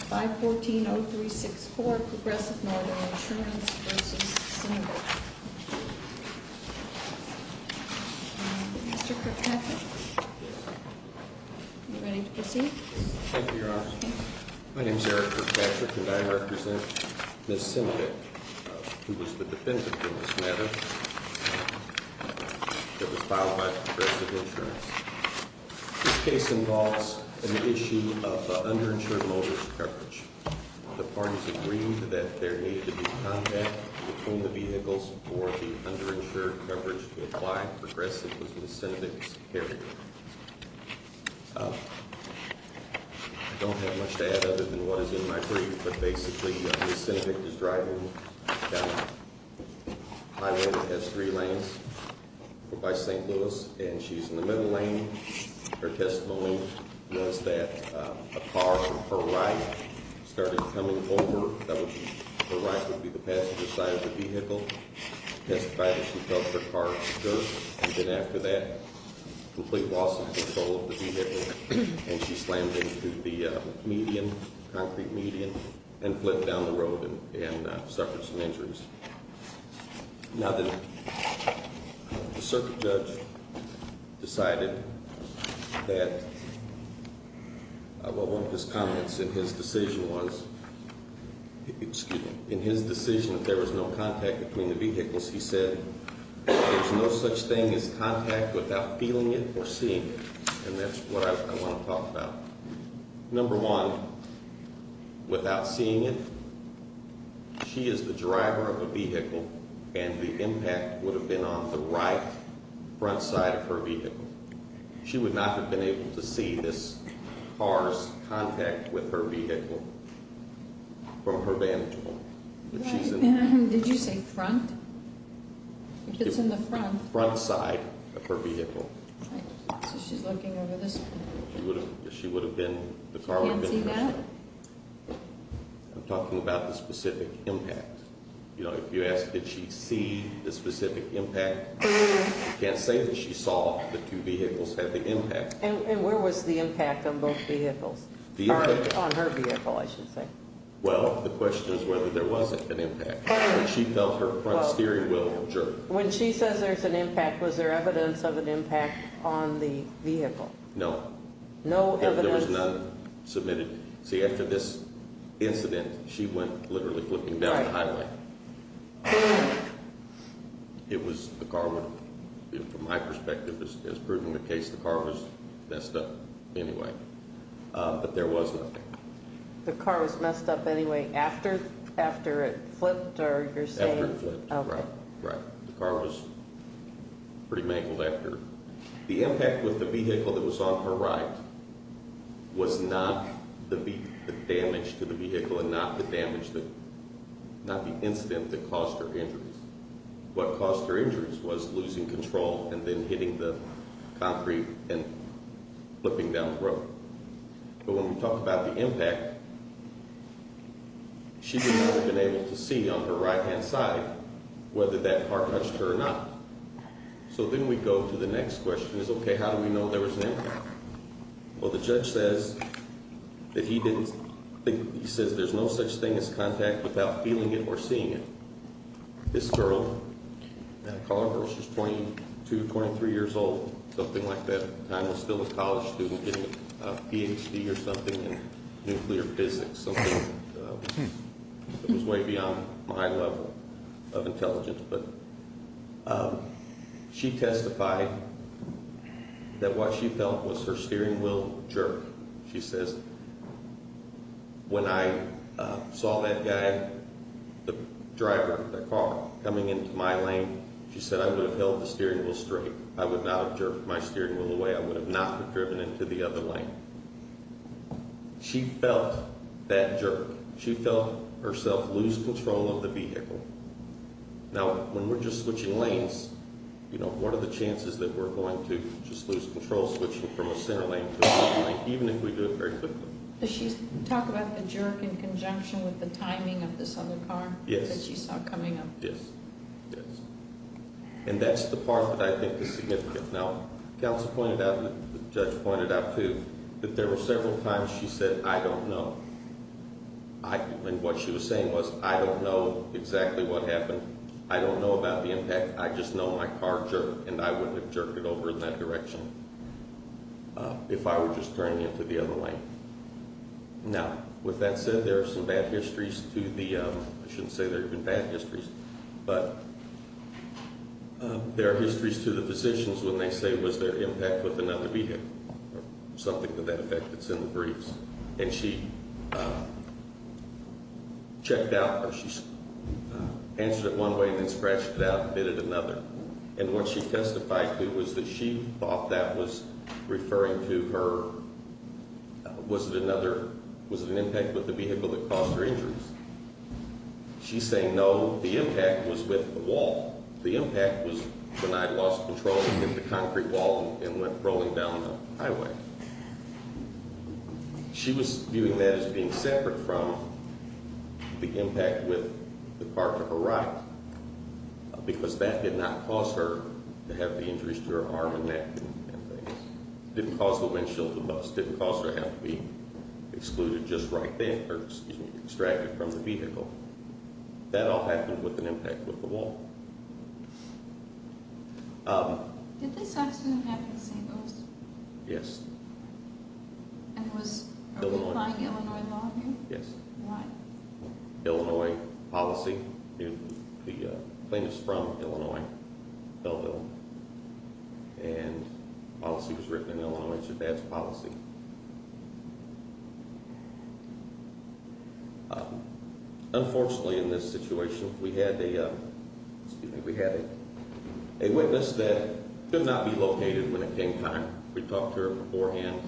514-0364, Progressive Northern Insurance v. Sinovic. Mr. Kirkpatrick, are you ready to proceed? Thank you, Your Honor. My name is Eric Kirkpatrick, and I represent Ms. Sinovic, who was the defendant in this matter, that was filed by Progressive Insurance. This case involves an issue of underinsured motorist coverage. The parties agreed that there need to be contact between the vehicles for the underinsured coverage to apply. Progressive was Ms. Sinovic's carrier. I don't have much to add other than what is in my brief, but basically Ms. Sinovic is driving down Highway S3 lanes by St. Louis, and she's in the middle lane. Her testimony was that a car from her right started coming over. Her right would be the passenger side of the vehicle. The testifier, she felt her car skirt, and then after that, complete loss of control of the vehicle, and she slammed into the medium, concrete medium, and flipped down the road and suffered some injuries. Now, the circuit judge decided that, well, one of his comments in his decision was, excuse me, in his decision that there was no contact between the vehicles, he said, there's no such thing as contact without feeling it or seeing it, and that's what I want to talk about. Number one, without seeing it, she is the driver of the vehicle, and the impact would have been on the right front side of her vehicle. She would not have been able to see this car's contact with her vehicle from her vantage point. Did you say front? It's in the front. Front side of her vehicle. So she's looking over this way. She would have been, the car would have been in her front. She can't see that? I'm talking about the specific impact. You know, if you ask, did she see the specific impact, you can't say that she saw the two vehicles have the impact. And where was the impact on both vehicles? Vehicle? On her vehicle, I should say. Well, the question is whether there was an impact. She felt her front steering wheel jerk. When she says there's an impact, was there evidence of an impact on the vehicle? No. No evidence? There was none submitted. See, after this incident, she went literally flipping down the highway. Who? It was the car owner. From my perspective, as proven in the case, the car was messed up anyway, but there was no impact. The car was messed up anyway after it flipped? After it flipped, right. The car was pretty mangled after. The impact with the vehicle that was on her right was not the damage to the vehicle and not the incident that caused her injuries. What caused her injuries was losing control and then hitting the concrete and flipping down the road. But when we talk about the impact, she would never have been able to see on her right-hand side whether that car touched her or not. So then we go to the next question is, okay, how do we know there was an impact? Well, the judge says that he didn't think, he says there's no such thing as contact without feeling it or seeing it. This girl, I call her, she's 22, 23 years old, something like that. I was still a college student getting a Ph.D. or something in nuclear physics, something that was way beyond my level of intelligence. But she testified that what she felt was her steering wheel jerk. She says, when I saw that guy, the driver of the car coming into my lane, she said I would have held the steering wheel straight. I would not have jerked my steering wheel away. I would have not have driven into the other lane. She felt that jerk. She felt herself lose control of the vehicle. Now, when we're just switching lanes, you know, what are the chances that we're going to just lose control switching from a center lane to a left lane, even if we do it very quickly? Does she talk about the jerk in conjunction with the timing of this other car? Yes. That she saw coming up? Yes, yes. And that's the part that I think is significant. Now, counsel pointed out, the judge pointed out, too, that there were several times she said, I don't know. And what she was saying was, I don't know exactly what happened. I don't know about the impact. I just know my car jerked, and I wouldn't have jerked it over in that direction if I were just turning into the other lane. Now, with that said, there are some bad histories to the ‑‑ I shouldn't say there have been bad histories, but there are histories to the physicians when they say, was there impact with another vehicle or something to that effect that's in the briefs. And she checked out or she answered it one way and then scratched it out and did it another. And what she testified to was that she thought that was referring to her ‑‑ was it another ‑‑ was it an impact with the vehicle that caused her injuries? She's saying, no, the impact was with the wall. The impact was when I lost control and hit the concrete wall and went rolling down the highway. She was viewing that as being separate from the impact with the car to her right, because that did not cause her to have the injuries to her arm and neck and things. Didn't cause her windshield to bust. Didn't cause her to have to be excluded just right then, or, excuse me, extracted from the vehicle. That all happened with an impact with the wall. Did they stop soon after the St. Louis? Yes. And was ‑‑ are we applying Illinois law here? Yes. Why? Illinois policy. The plaintiff is from Illinois, Belleville. And the policy was written in Illinois. It's a bad policy. Unfortunately, in this situation, we had a ‑‑ excuse me, we had a witness that could not be located when it came time. We talked to her beforehand.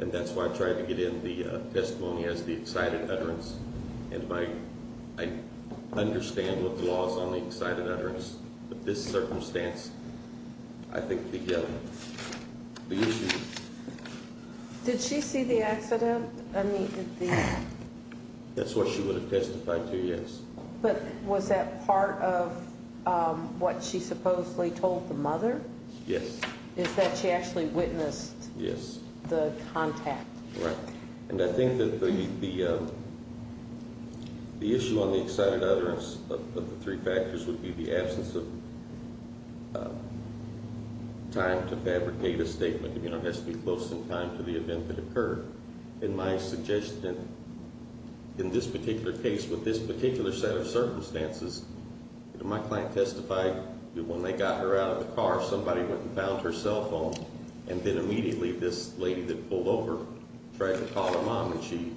And that's why I tried to get in the testimony as the excited utterance. And I understand what the law is on the excited utterance. But this circumstance, I think the issue is ‑‑ Did she see the accident? I mean, did the ‑‑ That's what she would have testified to, yes. But was that part of what she supposedly told the mother? Yes. Is that she actually witnessed the contact? Right. And I think that the issue on the excited utterance of the three factors would be the absence of time to fabricate a statement. You know, it has to be close in time to the event that occurred. In my suggestion, in this particular case, with this particular set of circumstances, my client testified that when they got her out of the car, somebody went and found her cell phone. And then immediately this lady that pulled over tried to call her mom. And she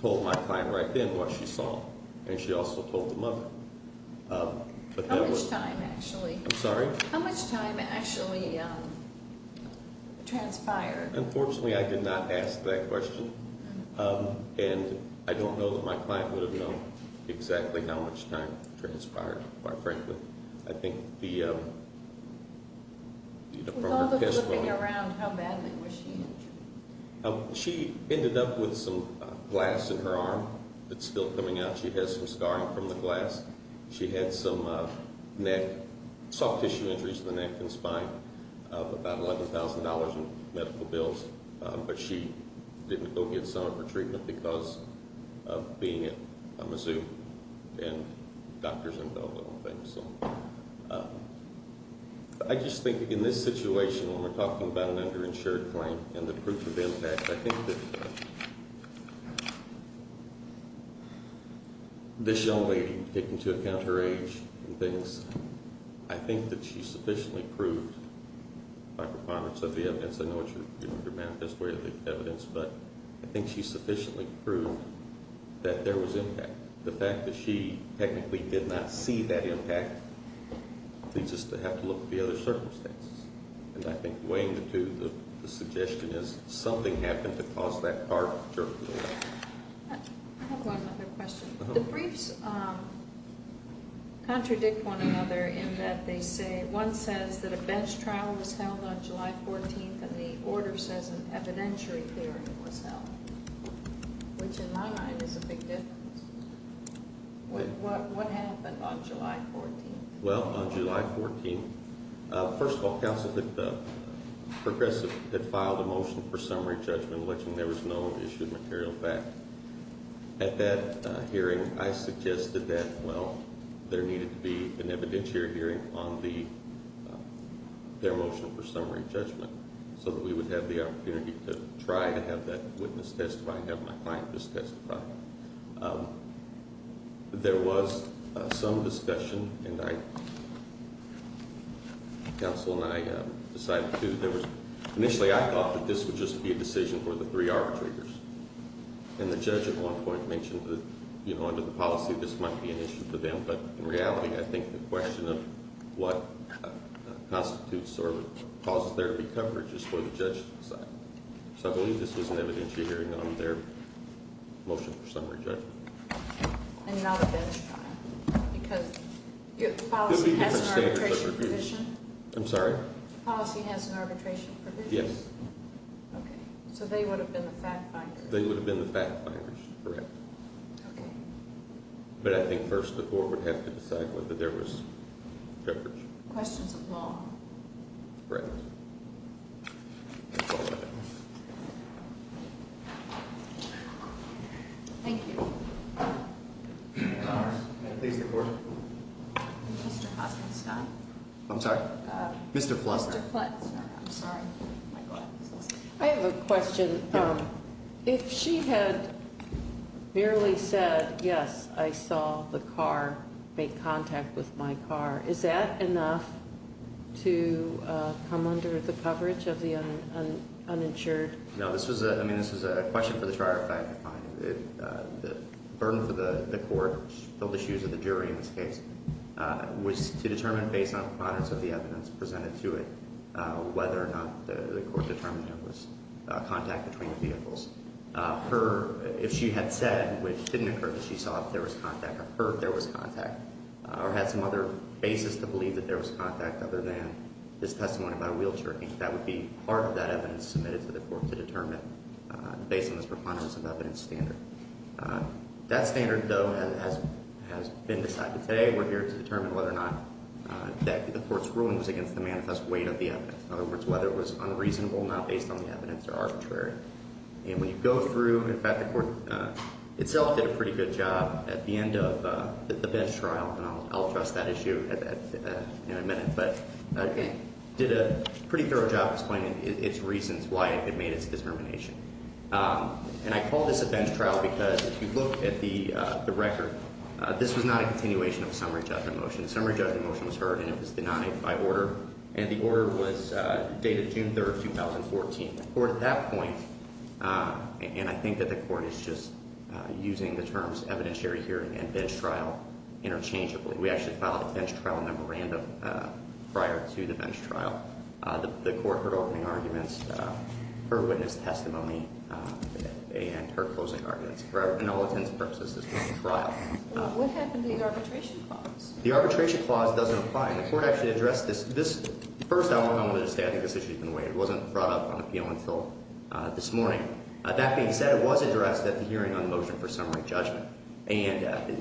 told my client right then what she saw. And she also told the mother. How much time, actually? I'm sorry? How much time actually transpired? Unfortunately, I did not ask that question. And I don't know that my client would have known exactly how much time transpired, quite frankly. With all the flipping around, how badly was she injured? She ended up with some glass in her arm that's still coming out. She has some scarring from the glass. She had some soft tissue injuries to the neck and spine, about $11,000 in medical bills. But she didn't go get some of her treatment because of being at Mizzou and doctors and all those things. I just think in this situation, when we're talking about an underinsured client and the proof of impact, I think that this young lady, taking into account her age and things, I think that she sufficiently proved by performance of the evidence. I know it's your manifest way of the evidence, but I think she sufficiently proved that there was impact. The fact that she technically did not see that impact leads us to have to look at the other circumstances. And I think weighing the two, the suggestion is something happened to cause that part of her. I have one other question. The briefs contradict one another in that one says that a bench trial was held on July 14th and the order says an evidentiary hearing was held, which in my mind is a big difference. What happened on July 14th? Well, on July 14th, first of all, counsel had filed a motion for summary judgment, alleging there was no issue of material fact. At that hearing, I suggested that, well, there needed to be an evidentiary hearing on their motion for summary judgment so that we would have the opportunity to try to have that witness testify and have my client just testify. There was some discussion, and counsel and I decided to, initially I thought that this would just be a decision for the three arbitrators. And the judge at one point mentioned that under the policy this might be an issue for them, but in reality I think the question of what constitutes or causes there to be coverage is for the judge to decide. So I believe this was an evidentiary hearing on their motion for summary judgment. And not a bench trial because the policy has an arbitration provision? I'm sorry? The policy has an arbitration provision? Yes. Okay. So they would have been the fact-finders? They would have been the fact-finders, correct. Okay. But I think first the court would have to decide whether there was coverage. Questions of law. Correct. Thank you. Mr. Hoskinson. I'm sorry? Mr. Flutz. Mr. Flutz. I have a question. If she had merely said, yes, I saw the car, made contact with my car, is that enough to come under the coverage of the uninsured? No, this was a question for the trial to find. The burden for the court, which filled the shoes of the jury in this case, was to determine based on the products of the evidence presented to it whether or not the court determined there was contact between the vehicles. If she had said, which didn't occur, that she saw if there was contact of her, there was contact, or had some other basis to believe that there was contact other than this testimony about a wheelchair, that would be part of that evidence submitted to the court to determine based on this preponderance of evidence standard. That standard, though, has been decided. Today we're here to determine whether or not the court's ruling was against the manifest weight of the evidence. In other words, whether it was unreasonable, not based on the evidence, or arbitrary. And when you go through, in fact, the court itself did a pretty good job at the end of the bench trial, and I'll address that issue in a minute, but did a pretty thorough job explaining its reasons why it made its determination. And I call this a bench trial because if you look at the record, this was not a continuation of a summary judgment motion. The summary judgment motion was heard and it was denied by order, and the order was dated June 3, 2014. The court at that point, and I think that the court is just using the terms evidentiary hearing and bench trial interchangeably. We actually filed a bench trial memorandum prior to the bench trial. The court heard opening arguments, heard witness testimony, and heard closing arguments. In all intents and purposes, this was a trial. What happened to the arbitration clause? The arbitration clause doesn't apply, and the court actually addressed this. First, I want to say I think this issue has been waived. It wasn't brought up on appeal until this morning. That being said, it was addressed at the hearing on the motion for summary judgment. And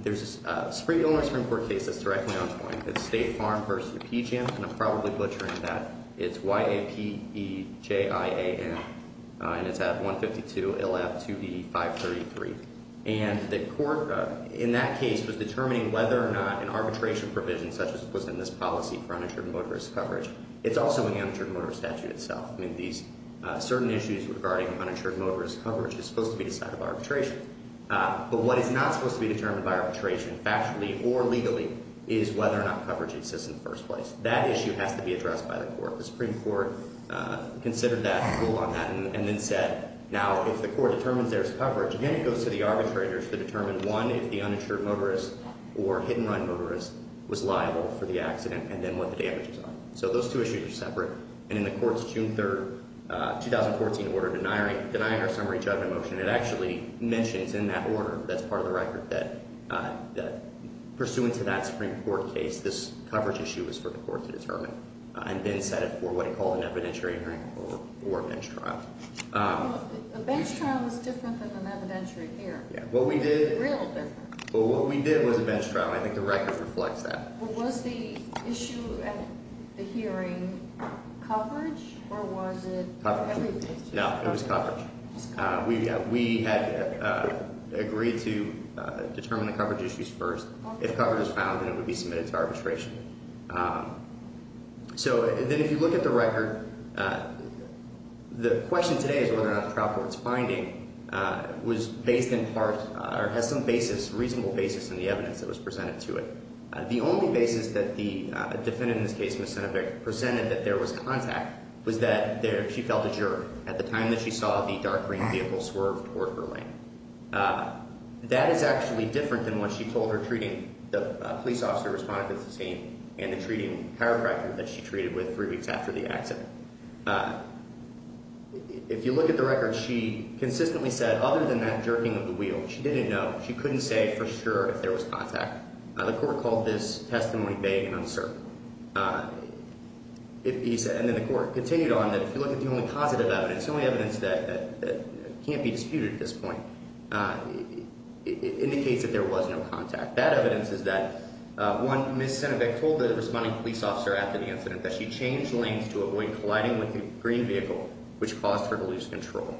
there's a Supreme Court case that's directly on point. It's State Farm v. PGM, and I'm probably butchering that. It's Y-A-P-E-J-I-A-N, and it's at 152 L-F-2-E-533. And the court in that case was determining whether or not an arbitration provision such as was in this policy for uninsured motorist coverage. It's also in the uninsured motorist statute itself. I mean, these certain issues regarding uninsured motorist coverage is supposed to be decided by arbitration. But what is not supposed to be determined by arbitration factually or legally is whether or not coverage exists in the first place. That issue has to be addressed by the court. The Supreme Court considered that rule on that and then said, now if the court determines there's coverage, then it goes to the arbitrators to determine, one, if the uninsured motorist or hit-and-run motorist was liable for the accident and then what the damages are. So those two issues are separate. And in the court's June 3, 2014 order denying our summary judgment motion, it actually mentions in that order that's part of the record that pursuant to that Supreme Court case, this coverage issue is for the court to determine and then set it for what it called an evidentiary hearing or bench trial. A bench trial is different than an evidentiary hearing. What we did was a bench trial. I think the record reflects that. Was the issue at the hearing coverage or was it everything? No, it was coverage. We had agreed to determine the coverage issues first. If coverage is found, then it would be submitted to arbitration. So then if you look at the record, the question today is whether or not the trial court's finding was based in part or has some basis, reasonable basis in the evidence that was presented to it. The only basis that the defendant in this case, Ms. Senevic, presented that there was contact was that she felt a jerk. At the time that she saw the dark green vehicle swerve toward her lane. That is actually different than what she told her treating the police officer responding to the scene and the treating chiropractor that she treated with three weeks after the accident. If you look at the record, she consistently said, other than that jerking of the wheel, she didn't know. She couldn't say for sure if there was contact. The court called this testimony vague and uncertain. He said, and then the court continued on, that if you look at the only positive evidence, the only evidence that can't be disputed at this point, indicates that there was no contact. That evidence is that one, Ms. Senevic told the responding police officer after the incident that she changed lanes to avoid colliding with the green vehicle, which caused her to lose control.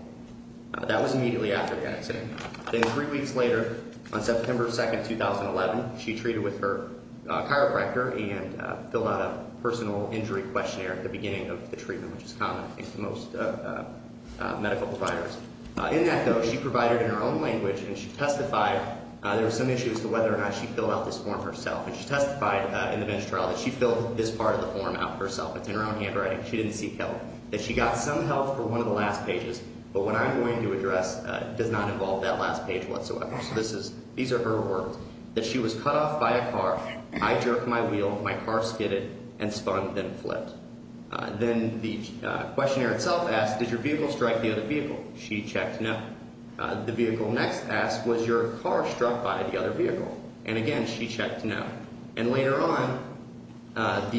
That was immediately after the accident. Then three weeks later, on September 2nd, 2011, she treated with her chiropractor and filled out a personal injury questionnaire at the beginning of the treatment, which is common, I think, to most medical providers. In that, though, she provided in her own language, and she testified there were some issues to whether or not she filled out this form herself. And she testified in the bench trial that she filled this part of the form out herself. It's in her own handwriting. She didn't seek help. That she got some help for one of the last pages, but what I'm going to address does not involve that last page whatsoever. So these are her words. That she was cut off by a car, I jerked my wheel, my car skidded, and spun, then flipped. Then the questionnaire itself asked, did your vehicle strike the other vehicle? She checked no. The vehicle next asked, was your car struck by the other vehicle? And again, she checked no. And later on,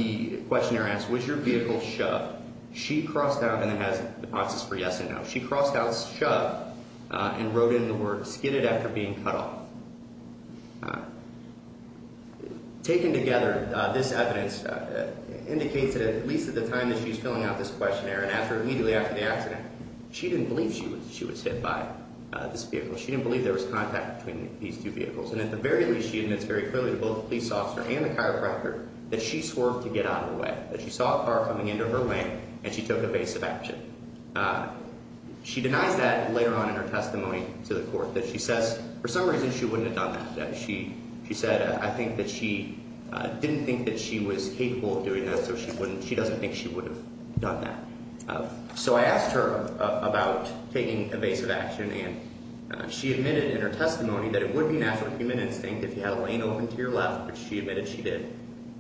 the questionnaire asked, was your vehicle shoved? She crossed out, and it has the process for yes and no. She crossed out shoved and wrote in the word that she was being cut off. Taken together, this evidence indicates that at least at the time that she was filling out this questionnaire and immediately after the accident, she didn't believe she was hit by this vehicle. She didn't believe there was contact between these two vehicles. And at the very least, she admits very clearly to both the police officer and the chiropractor that she swerved to get out of the way, that she saw a car coming into her way, and she took evasive action. She denies that later on in her testimony to the court, that she says, for some reason, she wouldn't have done that. She said, I think that she didn't think that she was capable of doing that, so she doesn't think she would have done that. So I asked her about taking evasive action, and she admitted in her testimony that it would be natural human instinct if you had a lane open to your left, which she admitted she did,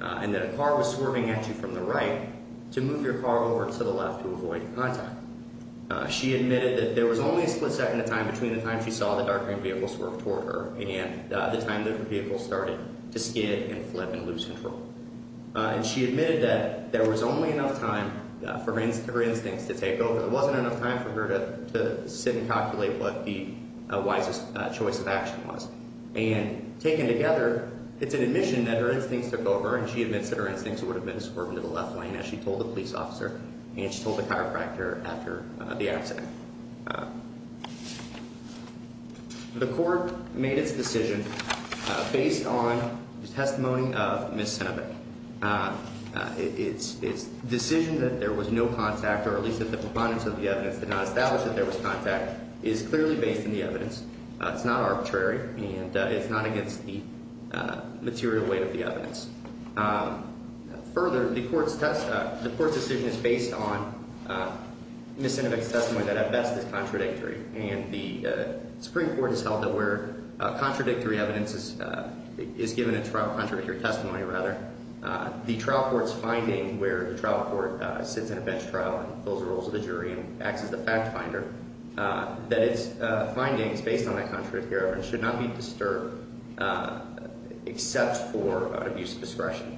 and that a car was swerving at you from the right to move your car over to the left to avoid contact. She admitted that there was only a split second in time between the time she saw the dark green vehicle swerve toward her and the time that the vehicle started to skid and flip and lose control. And she admitted that there was only enough time for her instincts to take over. There wasn't enough time for her to sit and calculate what the wisest choice of action was. And taken together, it's an admission that her instincts took over, and she admits that her instincts would have been to swerve into the left lane, as she told the police officer, and she told the chiropractor after the accident. The court made its decision based on the testimony of Ms. Senebek. Its decision that there was no contact, or at least that the proponents of the evidence did not establish that there was contact, is clearly based on the evidence. It's not arbitrary, and it's not against the material weight of the evidence. Further, the court's decision is based on Ms. Senebek's testimony that, at best, is contradictory. And the Supreme Court has held that where contradictory evidence is given in trial, contradictory testimony, rather, the trial court's finding, where the trial court sits in a bench trial and fills the roles of the jury and acts as the fact finder, that its findings, based on that contradictory evidence, should not be disturbed, except for abuse of discretion.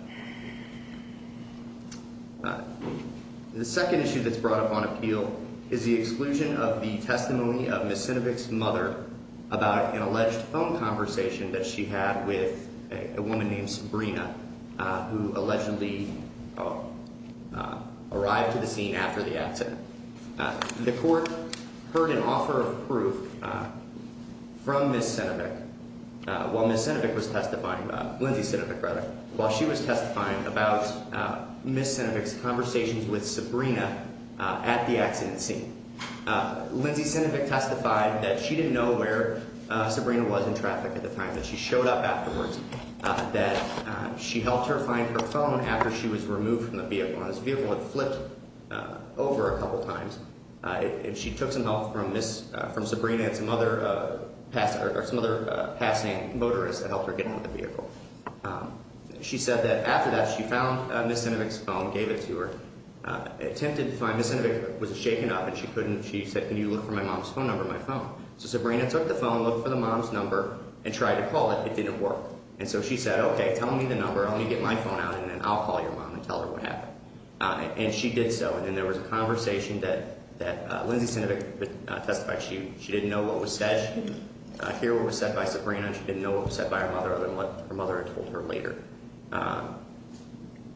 The second issue that's brought up on appeal is the exclusion of the testimony of Ms. Senebek's mother about an alleged phone conversation that she had with a woman named Sabrina, who allegedly arrived to the scene after the accident. The court heard an offer of proof from Ms. Senebek while Ms. Senebek was testifying, Lindsay Senebek, rather, while she was testifying about Ms. Senebek's conversations with Sabrina at the accident scene. Lindsay Senebek testified that she didn't know where Sabrina was in traffic at the time, that she showed up afterwards, that she helped her find her phone after she was removed from the vehicle. The phone on this vehicle had flipped over a couple of times, and she took some help from Sabrina and some other passant motorists that helped her get into the vehicle. She said that after that she found Ms. Senebek's phone, gave it to her, attempted to find Ms. Senebek, was shaken up, and she couldn't. She said, can you look for my mom's phone number on my phone? So Sabrina took the phone, looked for the mom's number, and tried to call it. It didn't work. And so she said, okay, tell me the number, let me get my phone out, and then I'll call your mom and tell her what happened. And she did so, and then there was a conversation that Lindsay Senebek testified. She didn't know what was said. She didn't hear what was said by Sabrina, and she didn't know what was said by her mother other than what her mother had told her later.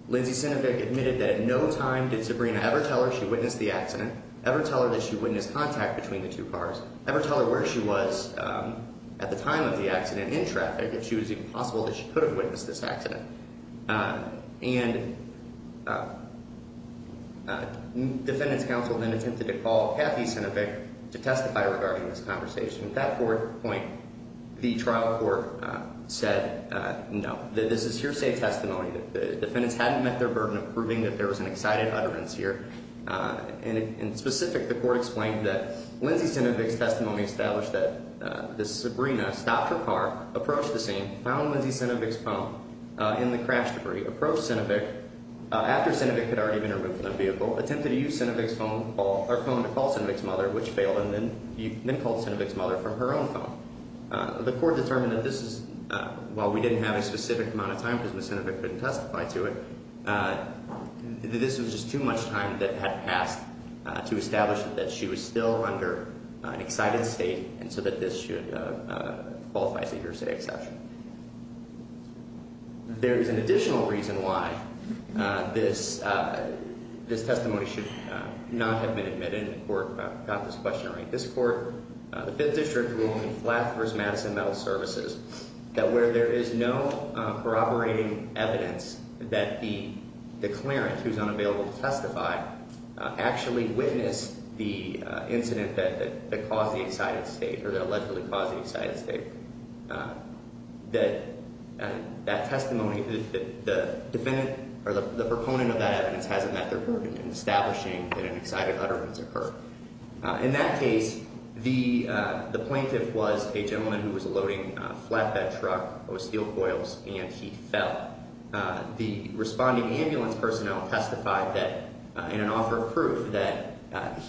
Lindsay Senebek admitted that at no time did Sabrina ever tell her she witnessed the accident, ever tell her that she witnessed contact between the two cars, ever tell her where she was at the time of the accident in traffic, if she was even possible that she could have witnessed this accident. And defendant's counsel then attempted to call Kathy Senebek to testify regarding this conversation. At that point, the trial court said, no, this is hearsay testimony. The defendants hadn't met their burden of proving that there was an excited utterance here. And in specific, the court explained that Lindsay Senebek's testimony established that Sabrina stopped her car, approached the scene, found Lindsay Senebek's phone in the crash debris, approached Senebek after Senebek had already been removed from the vehicle, attempted to use Senebek's phone to call Senebek's mother, which failed, and then called Senebek's mother from her own phone. The court determined that this is, while we didn't have a specific amount of time, because Ms. Senebek couldn't testify to it, this was just too much time that had passed to establish that she was still under an excited state and so that this should qualify as a hearsay exception. There is an additional reason why this testimony should not have been admitted, and the court got this question right. This court, the Fifth District ruling, Flathurst-Madison Mental Services, that where there is no corroborating evidence that the declarant, who's unavailable to testify, actually witnessed the incident that caused the excited state, or that allegedly caused the excited state, that the proponent of that evidence hasn't met their burden in establishing that an excited utterance occurred. In that case, the plaintiff was a gentleman who was loading a flatbed truck with steel coils, and he fell. The responding ambulance personnel testified in an offer of proof that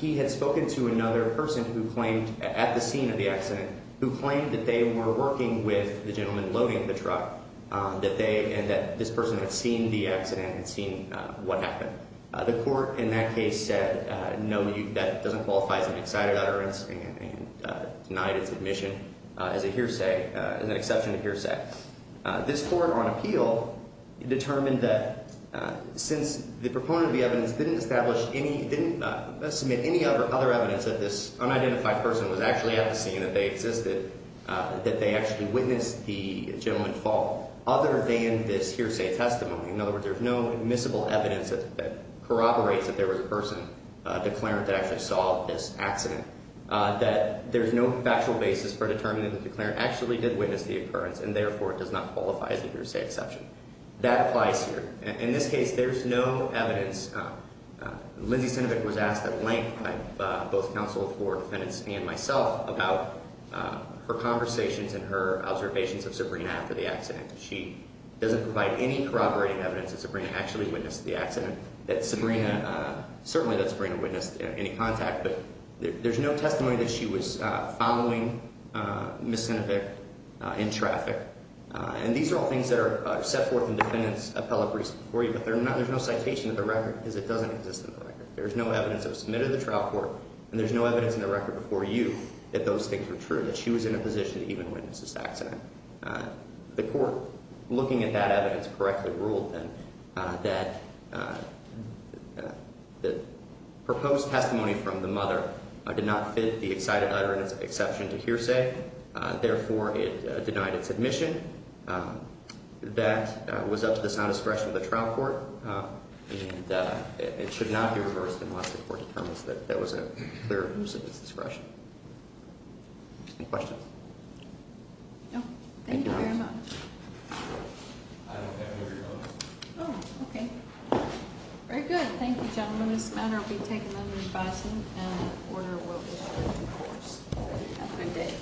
he had spoken to another person at the scene of the accident who claimed that they were working with the gentleman loading the truck and that this person had seen the accident and seen what happened. The court in that case said, no, that doesn't qualify as an excited utterance and denied its admission as an exception to hearsay. In fact, this court on appeal determined that since the proponent of the evidence didn't submit any other evidence that this unidentified person was actually at the scene, that they existed, that they actually witnessed the gentleman fall, other than this hearsay testimony, in other words, there's no admissible evidence that corroborates that there was a person, a declarant, that actually saw this accident, that there's no factual basis for determining that the declarant actually did witness the occurrence and therefore does not qualify as a hearsay exception. That applies here. In this case, there's no evidence. Lindsey Sinovic was asked at length by both counsel for defendants and myself about her conversations and her observations of Sabrina after the accident. She doesn't provide any corroborating evidence that Sabrina actually witnessed the accident, that Sabrina, certainly that Sabrina witnessed any contact, but there's no testimony that she was following Ms. Sinovic in traffic. And these are all things that are set forth in defendants' appellate briefs before you, but there's no citation of the record because it doesn't exist in the record. There's no evidence that was submitted to the trial court, and there's no evidence in the record before you that those things were true, that she was in a position to even witness this accident. The court, looking at that evidence, correctly ruled, then, that the proposed testimony from the mother did not fit the excited utterance exception to hearsay. Therefore, it denied its admission. That was up to the sound discretion of the trial court, and it should not be reversed unless the court determines that there was a clear abuse of its discretion. Any questions? No. Thank you very much. I don't have any of your notes. Oh, okay. Very good. Thank you, gentlemen. This matter will be taken under advice and an order will be ordered in force. Have a good day.